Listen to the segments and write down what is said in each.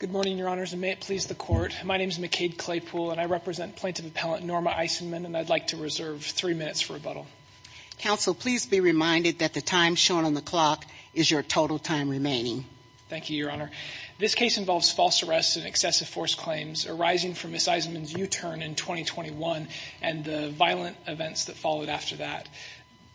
Good morning, Your Honors, and may it please the Court, my name is McCade Claypool, and I represent Plaintiff Appellant Norma Eisenman, and I'd like to reserve three minutes for rebuttal. Counsel, please be reminded that the time shown on the clock is your total time remaining. Thank you, Your Honor. This case involves false arrests and excessive force claims arising from Ms. Eisenman's U-turn in 2021 and the violent events that followed after that.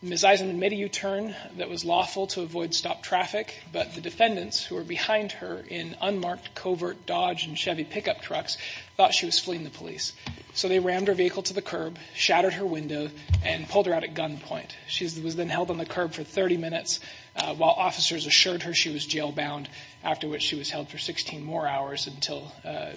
Ms. Eisenman made a U-turn that was lawful to avoid stopped traffic, but the defendants, who were behind her in unmarked covert Dodge and Chevy pickup trucks, thought she was fleeing the police. So they rammed her vehicle to the curb, shattered her window, and pulled her out at gunpoint. She was then held on the curb for 30 minutes, while officers assured her she was jailbound, after which she was held for 16 more hours until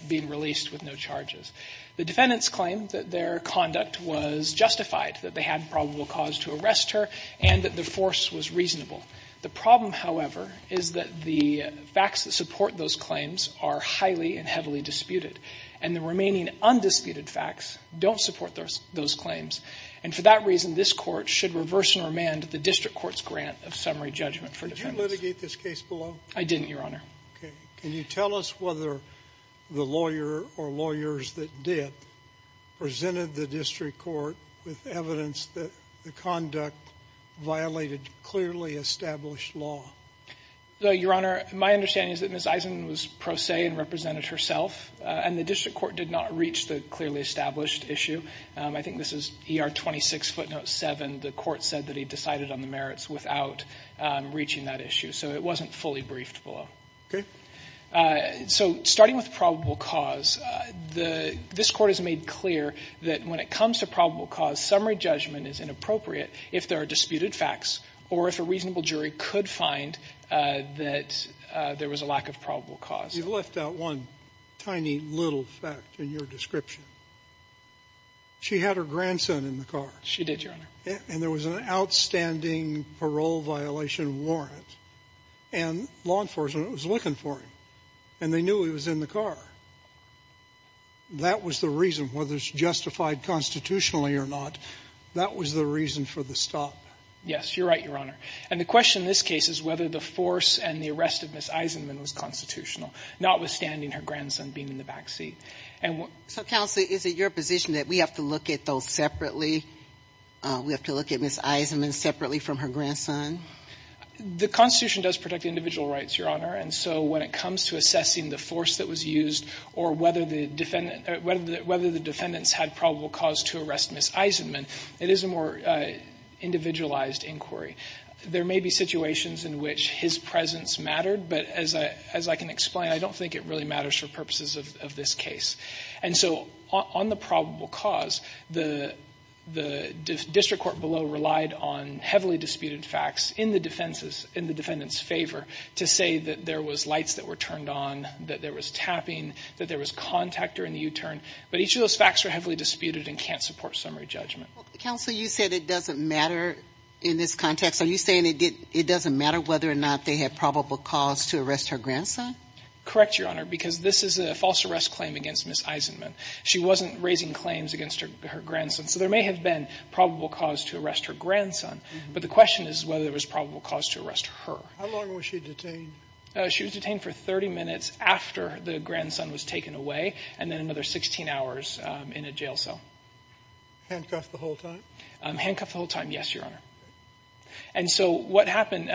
being released with no charges. The defendants claimed that their conduct was justified, that they had probable cause to arrest her, and that the force was reasonable. The problem, however, is that the facts that support those claims are highly and heavily disputed, and the remaining undisputed facts don't support those claims. And for that reason, this Court should reverse and remand the district court's grant of summary judgment for defendants. Did you litigate this case below? I didn't, Your Honor. Okay. Can you tell us whether the lawyer or lawyers that did presented the district court with evidence that the conduct violated clearly established law? Your Honor, my understanding is that Ms. Eisenman was pro se and represented herself, and the district court did not reach the clearly established issue. I think this is ER 26 footnote 7. The court said that he decided on the merits without reaching that issue. So it wasn't fully briefed below. So starting with probable cause, this Court has made clear that when it comes to probable cause, summary judgment is inappropriate if there are disputed facts or if a reasonable jury could find that there was a lack of probable cause. You left out one tiny little fact in your description. She had her grandson in the car. She did, Your Honor. And there was an outstanding parole violation warrant, and law enforcement was looking for him, and they knew he was in the car. That was the reason, whether it's justified constitutionally or not, that was the reason for the stop. Yes. You're right, Your Honor. And the question in this case is whether the force and the arrest of Ms. Eisenman was constitutional, notwithstanding her grandson being in the back seat. And what So, Counsel, is it your position that we have to look at those separately? We have to look at Ms. Eisenman separately from her grandson? The Constitution does protect individual rights, Your Honor. And so when it comes to assessing the force that was used or whether the defendant or whether the defendants had probable cause to arrest Ms. Eisenman, it is a more individualized inquiry. There may be situations in which his presence mattered, but as I can explain, I don't think it really matters for purposes of this case. And so on the probable cause, the district court below relied on heavily disputed facts in the defendant's favor to say that there was lights that were turned on, that there was tapping, that there was contact during the U-turn. But each of those facts were heavily disputed and can't support summary judgment. Counsel, you said it doesn't matter in this context. Are you saying it doesn't matter whether or not they had probable cause to arrest her grandson? Correct, Your Honor, because this is a false arrest claim against Ms. Eisenman. She wasn't raising claims against her grandson. So there may have been probable cause to arrest her grandson, but the question is whether there was probable cause to arrest her. How long was she detained? She was detained for 30 minutes after the grandson was taken away and then another 16 hours in a jail cell. Handcuffed the whole time? Handcuffed the whole time, yes, Your Honor. And so what happened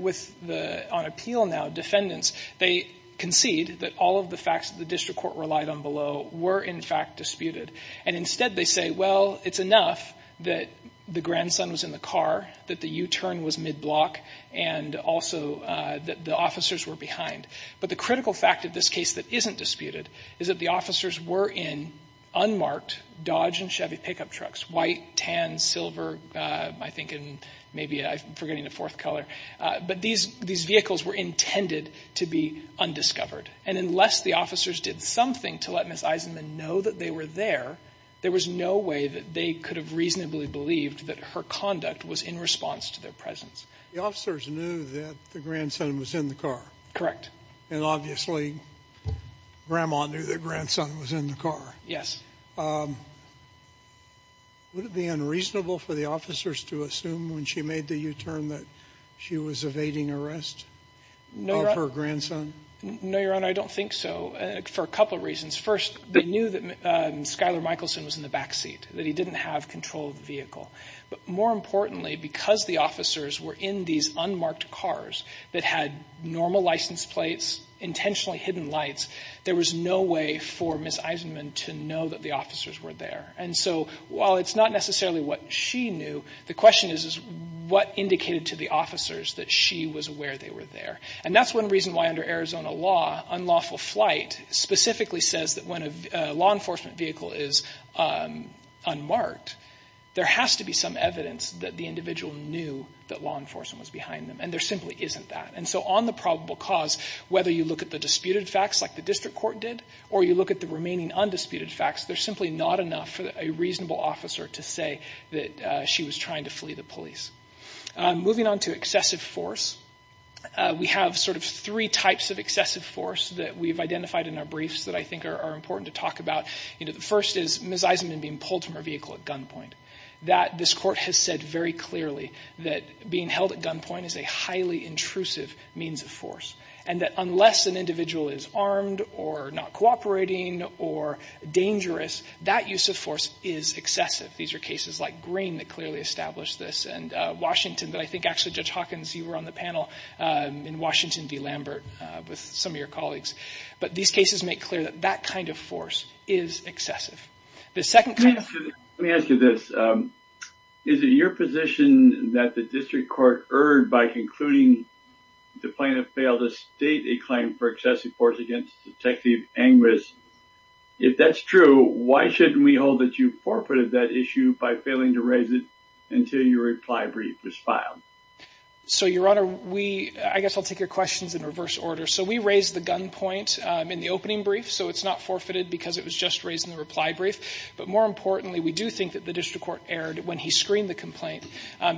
with the, on appeal now, defendants, they concede that all of the facts that the district court relied on below were in fact disputed. And instead they say, well, it's enough that the grandson was in the car, that the U-turn was mid-block, and also that the officers were behind. But the critical fact of this case that isn't disputed is that the officers were in unmarked Dodge and Chevy pickup trucks, white, tan, silver, I think it was in maybe, I'm forgetting the fourth color. But these vehicles were intended to be undiscovered. And unless the officers did something to let Miss Eisenman know that they were there, there was no way that they could have reasonably believed that her conduct was in response to their presence. The officers knew that the grandson was in the car? And obviously Grandma knew that grandson was in the car? Yes. Would it be unreasonable for the officers to assume when she made the U-turn that she was evading arrest of her grandson? No, Your Honor, I don't think so, for a couple of reasons. First, they knew that Skyler Michelson was in the backseat, that he didn't have control of the vehicle. But more importantly, because the officers were in these unmarked cars that had normal license plates, intentionally hidden lights, there was no way for Miss Eisenman to know that the officers were there. And so while it's not necessarily what she knew, the question is what indicated to the officers that she was aware they were there? And that's one reason why under Arizona law, unlawful flight specifically says that when a law enforcement vehicle is unmarked, there has to be some evidence that the individual knew that law enforcement was behind them. And there simply isn't that. And so on the probable cause, whether you look at the disputed facts like the court did, or you look at the remaining undisputed facts, there's simply not enough for a reasonable officer to say that she was trying to flee the police. Moving on to excessive force, we have sort of three types of excessive force that we've identified in our briefs that I think are important to talk about. The first is Miss Eisenman being pulled from her vehicle at gunpoint. This court has said very clearly that being held at gunpoint is a highly intrusive means of force. And that unless an individual is armed or not cooperating or dangerous, that use of force is excessive. These are cases like Green that clearly established this and Washington that I think actually Judge Hawkins, you were on the panel in Washington v. Lambert with some of your colleagues. But these cases make clear that that kind of force is excessive. The second kind of force... Let me ask you this. Is it your position that the district court erred by concluding the plaintiff failed to state a claim for excessive force against Detective Angris? If that's true, why shouldn't we hold that you forfeited that issue by failing to raise it until your reply brief was filed? So, Your Honor, we... I guess I'll take your questions in reverse order. So we raised the gunpoint in the opening brief, so it's not forfeited because it was just raised in the reply brief. But more importantly, we do think that the district court erred when he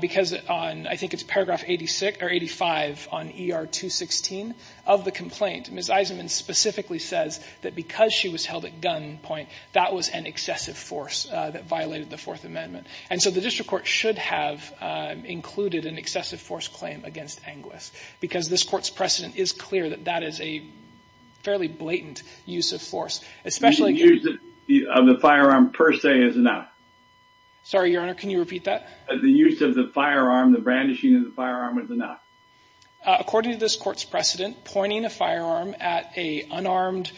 because on, I think it's paragraph 86 or 85 on ER 216 of the complaint, Ms. Eisenman specifically says that because she was held at gunpoint, that was an excessive force that violated the Fourth Amendment. And so the district court should have included an excessive force claim against Anglis because this court's precedent is clear that that is a fairly blatant use of force, especially... Using the firearm per se is enough. Sorry, Your Honor, can you repeat that? The use of the firearm, the brandishing of the firearm was enough. According to this court's precedent, pointing a firearm at an unarmed,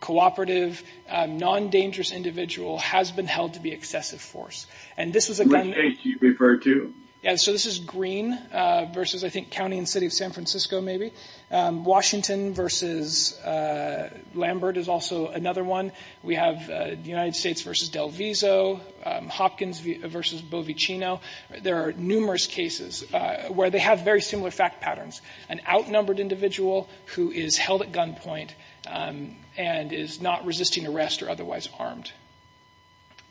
cooperative, non-dangerous individual has been held to be excessive force. And this is a gun... Which case do you refer to? Yeah, so this is Green versus, I think, County and City of San Francisco, maybe. Washington versus Lambert is also another one. We have the United States versus Del Vizo, Hopkins versus Bovichino. There are numerous cases where they have very similar fact patterns, an outnumbered individual who is held at gunpoint and is not resisting arrest or otherwise armed.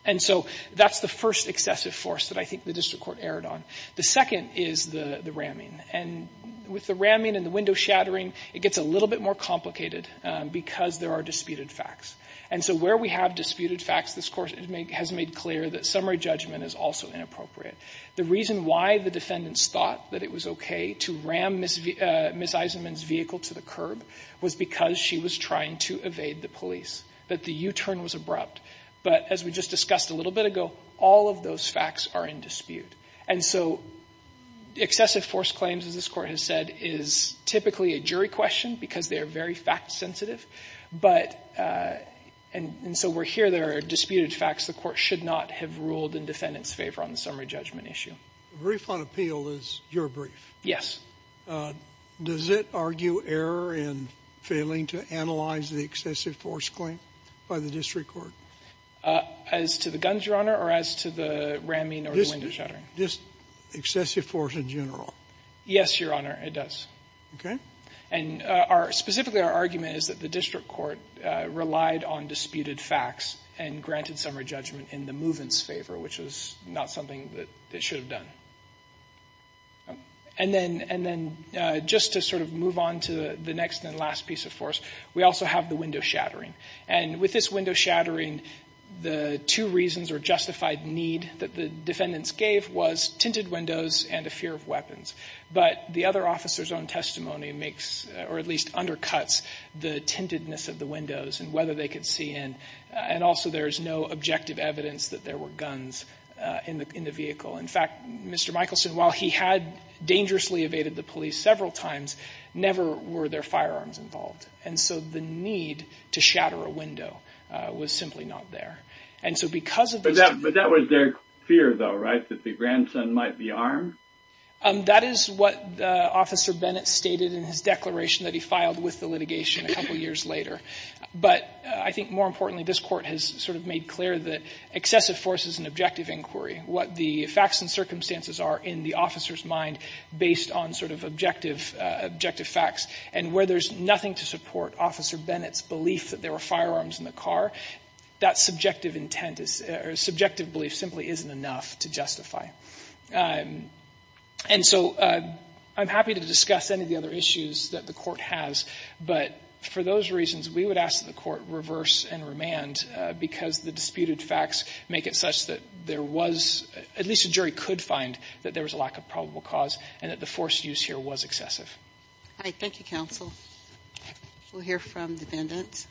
And so that's the first excessive force that I think the district court erred on. The second is the ramming. And with the ramming and the window shattering, it gets a little bit more complicated because there are disputed facts. And so where we have disputed facts, this court has made clear that summary judgment is also inappropriate. The reason why the defendants thought that it was okay to ram Ms. Eisenman's vehicle to the curb was because she was trying to evade the police, that the U-turn was abrupt. But as we just discussed a little bit ago, all of those facts are in dispute. And so excessive force claims, as this court has said, is typically a jury question because they are very fact-sensitive. But and so we're here. There are disputed facts. The court should not have ruled in defendant's favor on the summary judgment issue. The brief on appeal is your brief. Yes. Does it argue error in failing to analyze the excessive force claim by the district court? As to the guns, Your Honor, or as to the ramming or the window shattering? Just excessive force in general. Yes, Your Honor, it does. Okay. And specifically our argument is that the district court relied on disputed facts and granted summary judgment in the movant's favor, which was not something that it should have done. And then just to sort of move on to the next and last piece of force, we also have the window shattering. And with this window shattering, the two reasons or justified need that the defendants gave was tinted windows and a fear of weapons. But the other officer's own testimony makes or at least undercuts the tintedness of the windows and whether they could see in. And also there is no objective evidence that there were guns in the vehicle. In fact, Mr. Michelson, while he had dangerously evaded the police several times, never were there firearms involved. And so the need to shatter a window was simply not there. But that was their fear, though, right, that the grandson might be armed? That is what Officer Bennett stated in his declaration that he filed with the litigation a couple years later. But I think more importantly, this Court has sort of made clear that excessive force is an objective inquiry. What the facts and circumstances are in the officer's mind based on sort of objective facts and where there's nothing to support Officer Bennett's belief that there were firearms in the car, that subjective intent is or subjective belief simply isn't enough to justify. And so I'm happy to discuss any of the other issues that the Court has. But for those reasons, we would ask that the Court reverse and remand because the disputed facts make it such that there was at least a jury could find that there was a lack of probable cause and that the force used here was excessive. Thank you, Counsel. We'll hear from defendants.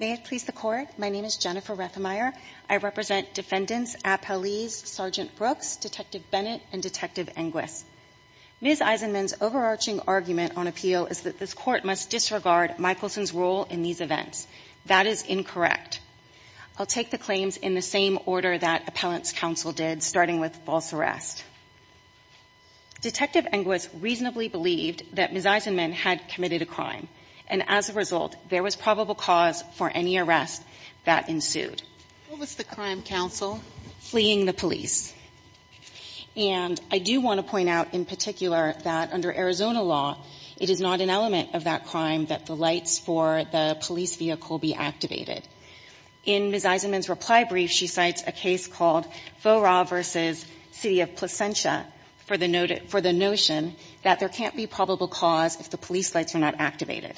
May it please the Court? My name is Jennifer Rethemeier. I represent defendants Appelese, Sergeant Brooks, Detective Bennett, and Detective Englis. Ms. Eisenman's overarching argument on appeal is that this Court must disregard Michelson's role in these events. That is incorrect. I'll take the claims in the same order that Appellant's counsel did, starting with false arrest. Detective Englis reasonably believed that Ms. Eisenman had committed a crime, and as a result, there was probable cause for any arrest that ensued. What was the crime, Counsel? Fleeing the police. And I do want to point out in particular that under Arizona law, it is not an element of that crime that the lights for the police vehicle be activated. In Ms. Eisenman's reply brief, she cites a case called Faura v. City of Placentia for the notion that there can't be probable cause if the police lights are not activated.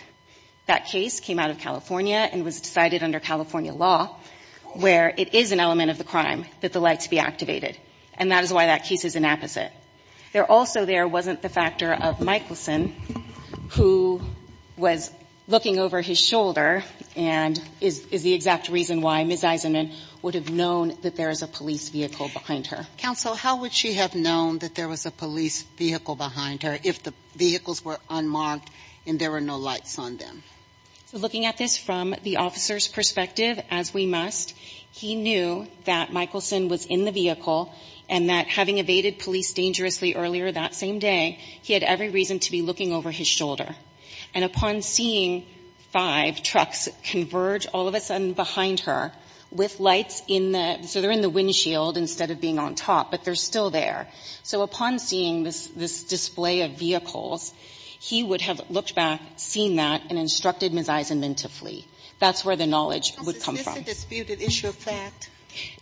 That case came out of California and was decided under California law where it is an element of the crime that the lights be activated, and that is why that case is inapposite. There also there wasn't the factor of Michelson, who was looking over his shoulder and is the exact reason why Ms. Eisenman would have known that there is a police vehicle behind her. Counsel, how would she have known that there was a police vehicle behind her if the vehicles were unmarked and there were no lights on them? So looking at this from the officer's perspective, as we must, he knew that Michelson was in the vehicle and that having evaded police dangerously earlier that same day, he had every reason to be looking over his shoulder. And upon seeing five trucks converge all of a sudden behind her with lights in the so they're in the windshield instead of being on top, but they're still there. So upon seeing this display of vehicles, he would have looked back, seen that, and instructed Ms. Eisenman to flee. That's where the knowledge would come from. Counsel, is this a disputed issue of fact?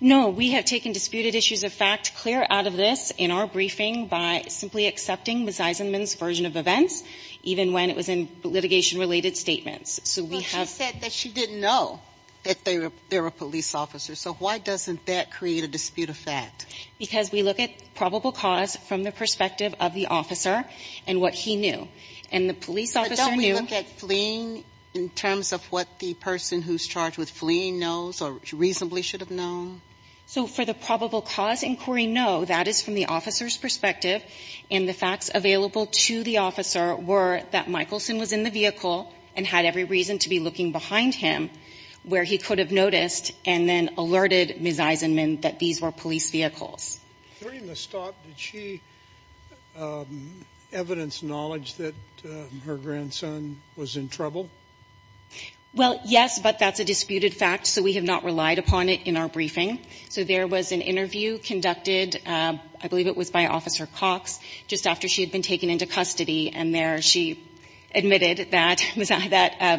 No. We have taken disputed issues of fact clear out of this in our briefing by simply accepting Ms. Eisenman's version of events, even when it was in litigation-related statements. Well, she said that she didn't know that there were police officers. So why doesn't that create a dispute of fact? Because we look at probable cause from the perspective of the officer and what he knew. And the police officer knew. But don't we look at fleeing in terms of what the person who's charged with fleeing knows or reasonably should have known? So for the probable cause inquiry, no. That is from the officer's perspective. And the facts available to the officer were that Michelson was in the vehicle and had every reason to be looking behind him where he could have noticed and then alerted Ms. Eisenman that these were police vehicles. During the stop, did she evidence knowledge that her grandson was in trouble? Well, yes, but that's a disputed fact, so we have not relied upon it in our briefing. So there was an interview conducted, I believe it was by Officer Cox, just after she had been taken into custody. And there she admitted that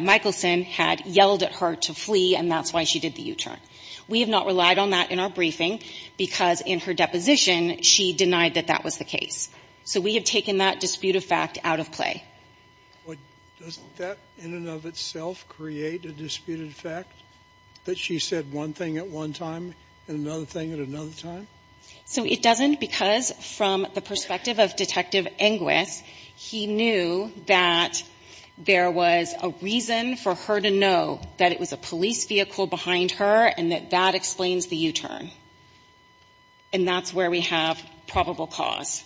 Michelson had yelled at her to flee, and that's why she did the U-turn. We have not relied on that in our briefing because in her deposition, she denied that that was the case. So we have taken that dispute of fact out of play. But doesn't that, in and of itself, create a disputed fact, that she said one thing at one time and another thing at another time? So it doesn't because from the perspective of Detective Inguis, he knew that there was a reason for her to know that it was a police vehicle behind her and that that explains the U-turn, and that's where we have probable cause.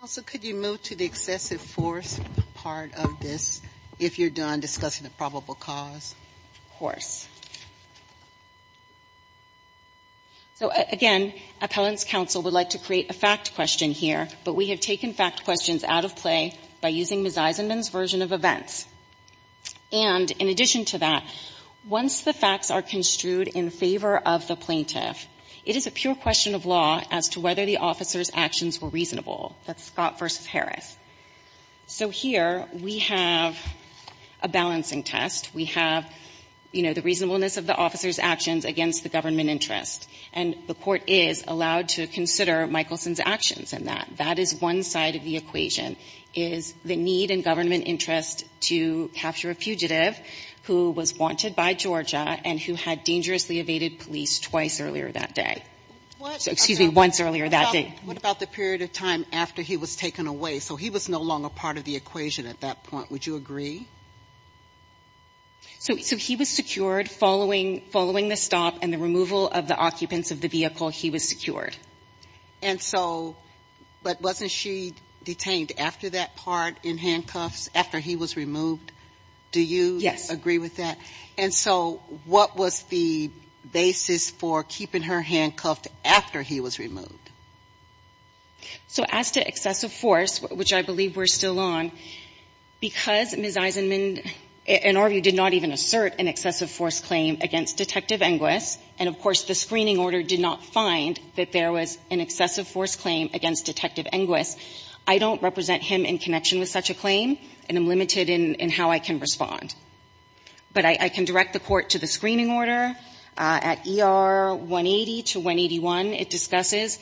Counsel, could you move to the excessive force part of this, if you're done discussing the probable cause? Of course. So, again, Appellant's counsel would like to create a fact question here, but we have taken fact questions out of play by using Ms. Eisenman's version of events. And in addition to that, once the facts are construed in favor of the plaintiff, it is a pure question of law as to whether the officer's actions were reasonable. That's Scott v. Harris. So here we have a balancing test. We have, you know, the reasonableness of the officer's actions against the government interest. And the Court is allowed to consider Michelson's actions in that. That is one side of the equation, is the need in government interest to capture a fugitive who was wanted by Georgia and who had dangerously evaded police twice earlier that day. Excuse me, once earlier that day. What about the period of time after he was taken away? So he was no longer part of the equation at that point. Would you agree? So he was secured following the stop and the removal of the occupants of the vehicle, he was secured. And so, but wasn't she detained after that part in handcuffs, after he was removed? Do you agree with that? And so what was the basis for keeping her handcuffed after he was removed? So as to excessive force, which I believe we're still on, because Ms. Eisenman in our view did not even assert an excessive force claim against Detective Inguis, and of course the screening order did not find that there was an excessive force claim against Detective Inguis, I don't represent him in connection with such a claim, and I'm limited in how I can respond. But I can direct the court to the screening order. At ER 180 to 181, it discusses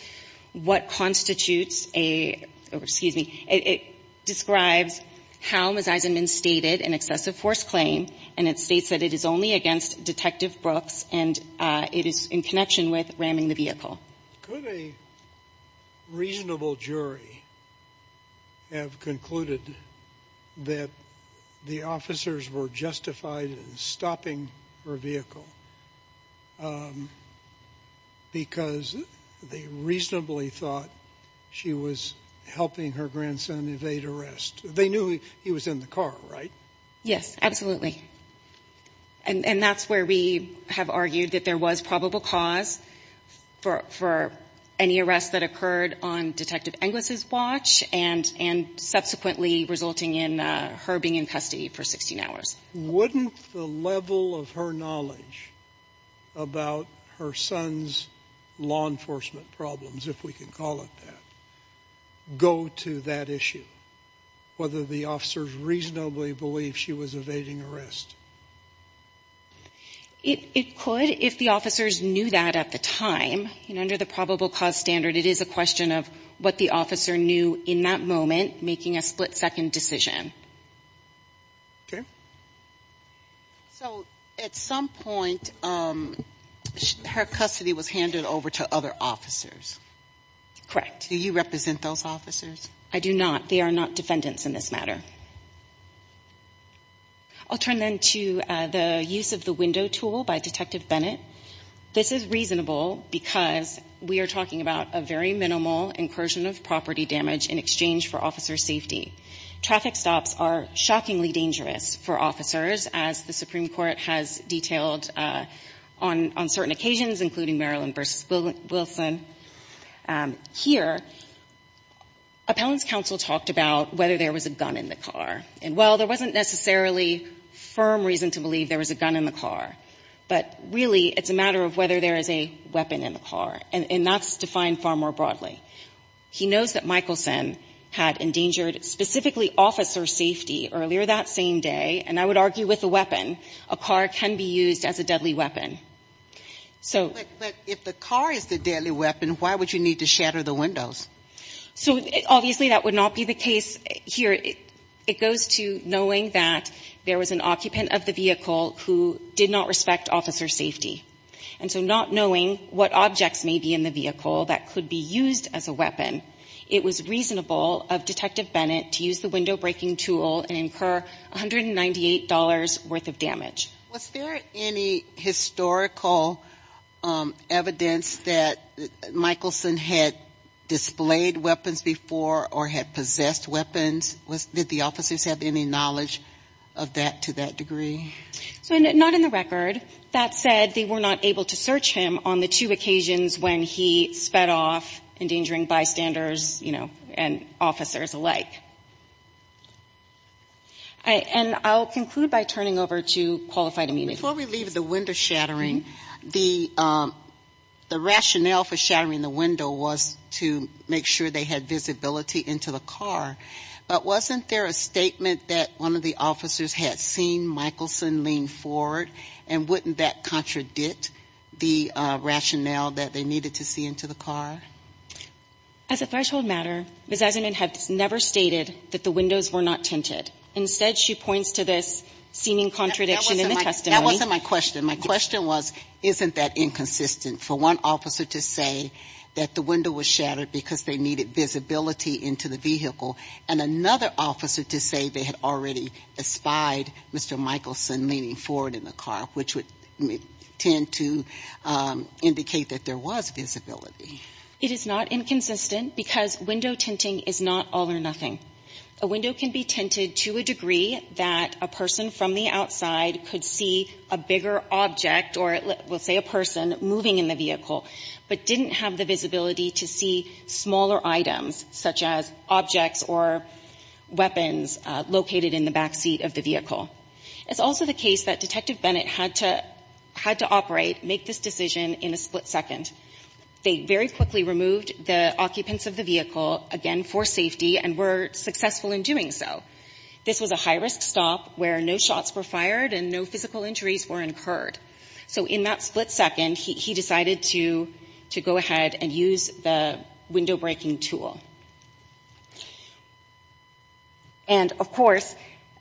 what constitutes a, or excuse me, it describes how Ms. Eisenman stated an excessive force claim, and it states that it is only against Detective Brooks, and it is in connection with ramming the vehicle. Could a reasonable jury have concluded that the officers were justified in stopping her vehicle because they reasonably thought she was helping her grandson evade arrest? They knew he was in the car, right? Yes, absolutely. And that's where we have argued that there was probable cause for any arrest that occurred on Detective Inguis' watch and subsequently resulting in her being in custody for 16 hours. Wouldn't the level of her knowledge about her son's law enforcement problems, if we can call it that, go to that issue, whether the officers reasonably believed she was evading arrest? It could if the officers knew that at the time. And under the probable cause standard, it is a question of what the officer knew in that moment, making a split-second decision. Okay. So at some point, her custody was handed over to other officers. Correct. Do you represent those officers? I do not. They are not defendants in this matter. I'll turn then to the use of the window tool by Detective Bennett. This is reasonable because we are talking about a very minimal incursion of property damage in exchange for officer safety. Traffic stops are shockingly dangerous for officers, as the Supreme Court has detailed on certain occasions, including Marilyn v. Wilson. Here, appellant's counsel talked about whether there was a gun in the car. And, well, there wasn't necessarily firm reason to believe there was a gun in the But, really, it's a matter of whether there is a weapon in the car. And that's defined far more broadly. He knows that Michelson had endangered specifically officer safety earlier that same day. And I would argue with a weapon. A car can be used as a deadly weapon. But if the car is the deadly weapon, why would you need to shatter the windows? So, obviously, that would not be the case here. It goes to knowing that there was an occupant of the vehicle who did not respect officer safety. And so not knowing what objects may be in the vehicle that could be used as a weapon, it was reasonable of Detective Bennett to use the window breaking tool and incur $198 worth of damage. Was there any historical evidence that Michelson had displayed weapons before or had possessed weapons? Did the officers have any knowledge of that to that degree? So, not in the record. That said, they were not able to search him on the two occasions when he sped off, endangering bystanders, you know, and officers alike. And I'll conclude by turning over to Qualified Immunities. Before we leave the window shattering, the rationale for shattering the window was to make sure they had visibility into the car. But wasn't there a statement that one of the officers had seen Michelson lean forward, and wouldn't that contradict the rationale that they needed to see into the car? As a threshold matter, Ms. Eisenman has never stated that the windows were not tinted. Instead, she points to this seeming contradiction in the testimony. That wasn't my question. My question was, isn't that inconsistent for one officer to say that the window was shattered because they needed visibility into the vehicle, and another officer to say they had already spied Mr. Michelson leaning forward in the car, which would tend to indicate that there was visibility? It is not inconsistent, because window tinting is not all or nothing. A window can be tinted to a degree that a person from the outside could see a bigger object, or we'll say a person, moving in the vehicle, but didn't have the visibility to see smaller items, such as objects or weapons located in the back seat of the vehicle. It's also the case that Detective Bennett had to operate, make this decision in a split second. They very quickly removed the occupants of the vehicle, again, for safety, and were successful in doing so. This was a high-risk stop where no shots were fired and no physical injuries were incurred. So in that split second, he decided to go ahead and use the window-breaking tool. And, of course,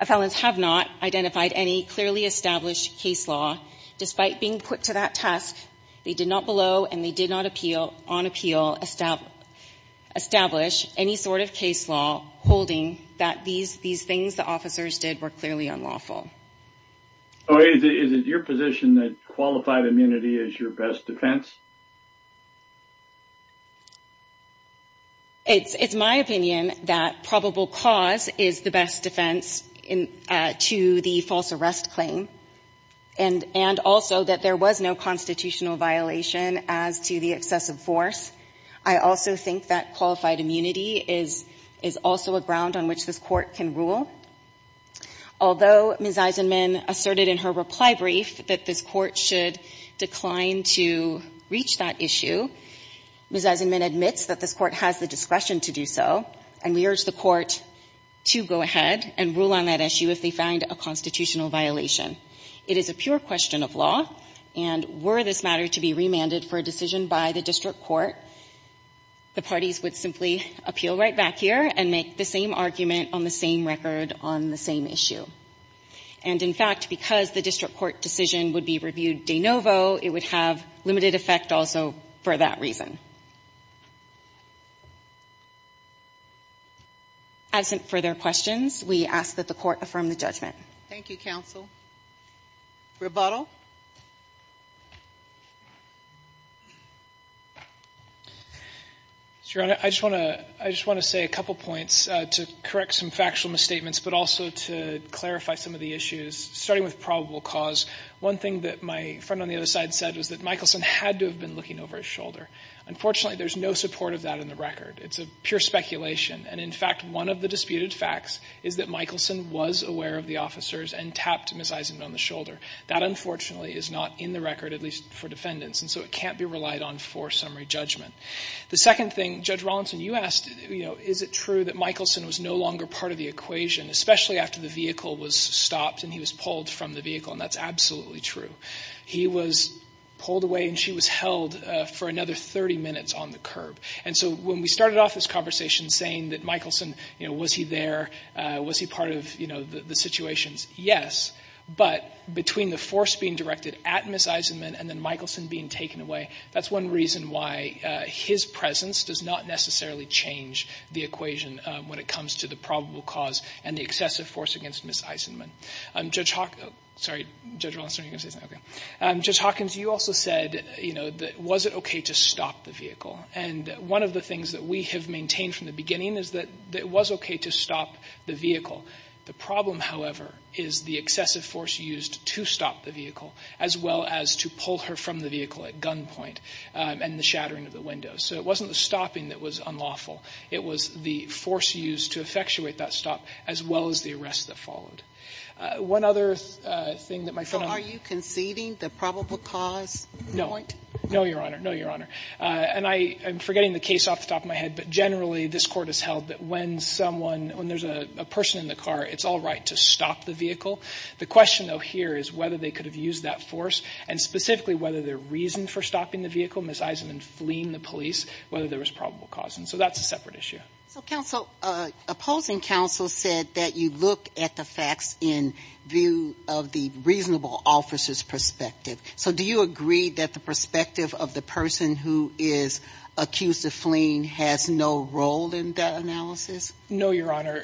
felons have not identified any clearly established case law. Despite being put to that task, they did not below and they did not on appeal establish any sort of case law holding that these things the officers did were clearly unlawful. Is it your position that qualified immunity is your best defense? It's my opinion that probable cause is the best defense to the false arrest claim, and also that there was no constitutional violation as to the excessive force. I also think that qualified immunity is also a ground on which this court can rule. Although Ms. Eisenman asserted in her reply brief that this court should decline to reach that issue, Ms. Eisenman admits that this court has the discretion to do so, and we urge the court to go ahead and rule on that issue if they find a constitutional violation. It is a pure question of law, and were this matter to be remanded for a decision by the district court, the parties would simply appeal right back here and make the same argument on the same record on the same issue. And in fact, because the district court decision would be reviewed de novo, it would have limited effect also for that reason. As for further questions, we ask that the court affirm the judgment. Thank you, counsel. Rebuttal? Your Honor, I just want to say a couple points to correct some factual misstatements, but also to clarify some of the issues. Starting with probable cause, one thing that my friend on the other side said was that Michelson had to have been looking over his shoulder. Unfortunately, there's no support of that in the record. It's a pure speculation, and in fact, one of the disputed facts is that Michelson was aware of the officers and tapped Ms. Eisenman on the shoulder. That, unfortunately, is not in the record, at least for defendants, and so it can't be relied on for summary judgment. The second thing, Judge Rawlinson, you asked, you know, is it true that Michelson was no longer part of the equation, especially after the vehicle was stopped and he was pulled from the vehicle, and that's absolutely true. He was pulled away and she was held for another 30 minutes on the curb. And so when we started off this conversation saying that Michelson, you know, was he there, was he part of, you know, the situations, yes. But between the force being directed at Ms. Eisenman and then Michelson being taken away, that's one reason why his presence does not necessarily change the equation when it comes to the probable cause and the excessive force against Ms. Eisenman. Judge Hawkins, you also said, you know, was it okay to stop the vehicle. And one of the things that we have maintained from the beginning is that it was okay to stop the vehicle. The problem, however, is the excessive force used to stop the vehicle, as well as to pull her from the vehicle at gunpoint, and the shattering of the window. So it wasn't the stopping that was unlawful. It was the force used to effectuate that stop, as well as the arrest that followed. One other thing that my friend asks. So are you conceding the probable cause point? No. No, Your Honor. No, Your Honor. And I'm forgetting the case off the top of my head, but generally this Court has held that when someone, when there's a person in the car, it's all right to stop the vehicle. The question, though, here is whether they could have used that force, and specifically whether their reason for stopping the vehicle, Ms. Eisenman fleeing the police, whether there was probable cause. And so that's a separate issue. So opposing counsel said that you look at the facts in view of the reasonable officer's perspective. So do you agree that the perspective of the person who is accused of fleeing has no role in that analysis? No, Your Honor.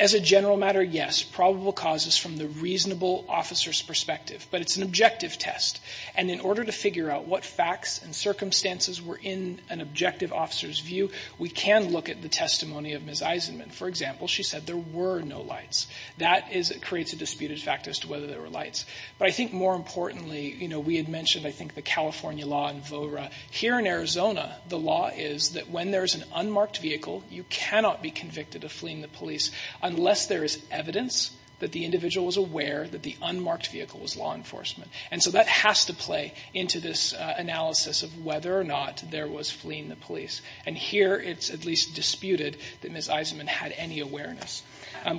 As a general matter, yes, probable cause is from the reasonable officer's perspective, but it's an objective test. And in order to figure out what facts and circumstances were in an objective officer's view, we can look at the testimony of Ms. Eisenman. For example, she said there were no lights. That is what creates a disputed fact as to whether there were lights. But I think more importantly, you know, we had mentioned, I think, the California law and VORA. Here in Arizona, the law is that when there's an unmarked vehicle, you cannot be convicted of fleeing the police unless there is evidence that the individual was aware that the unmarked vehicle was law enforcement. And so that has to play into this analysis of whether or not there was fleeing the police. And here it's at least disputed that Ms. Eisenman had any awareness.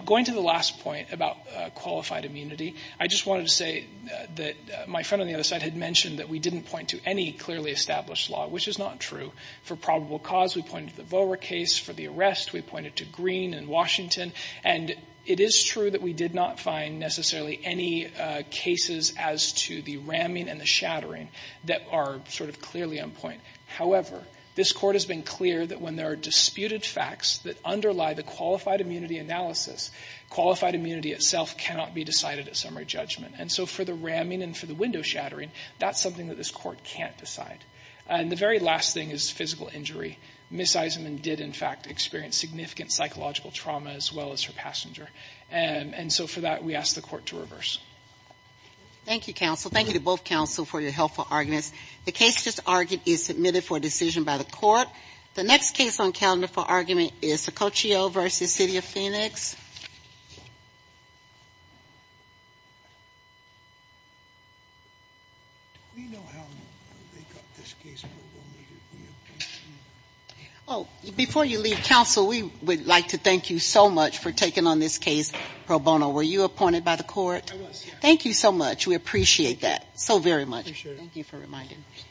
Going to the last point about qualified immunity, I just wanted to say that my friend on the other side had mentioned that we didn't point to any clearly established law, which is not true. For probable cause, we pointed to the VORA case. For the arrest, we pointed to Green and Washington. And it is true that we did not find necessarily any cases as to the ramming and the shattering that are sort of clearly on point. However, this Court has been clear that when there are disputed facts that underlie the qualified immunity analysis, qualified immunity itself cannot be decided at summary judgment. And so for the ramming and for the window shattering, that's something that this Court can't decide. And the very last thing is physical injury. Ms. Eisenman did, in fact, experience significant psychological trauma as well as her passenger. And so for that, we ask the Court to reverse. Thank you, counsel. Thank you to both counsel for your helpful arguments. The case just argued is submitted for decision by the Court. The next case on calendar for argument is Sococcio v. City of Phoenix. Do we know how they got this case pro bono? Before you leave, counsel, we would like to thank you so much for taking on this case pro bono. Were you appointed by the Court? I was. Thank you so much. We appreciate that so very much. Thank you for reminding us.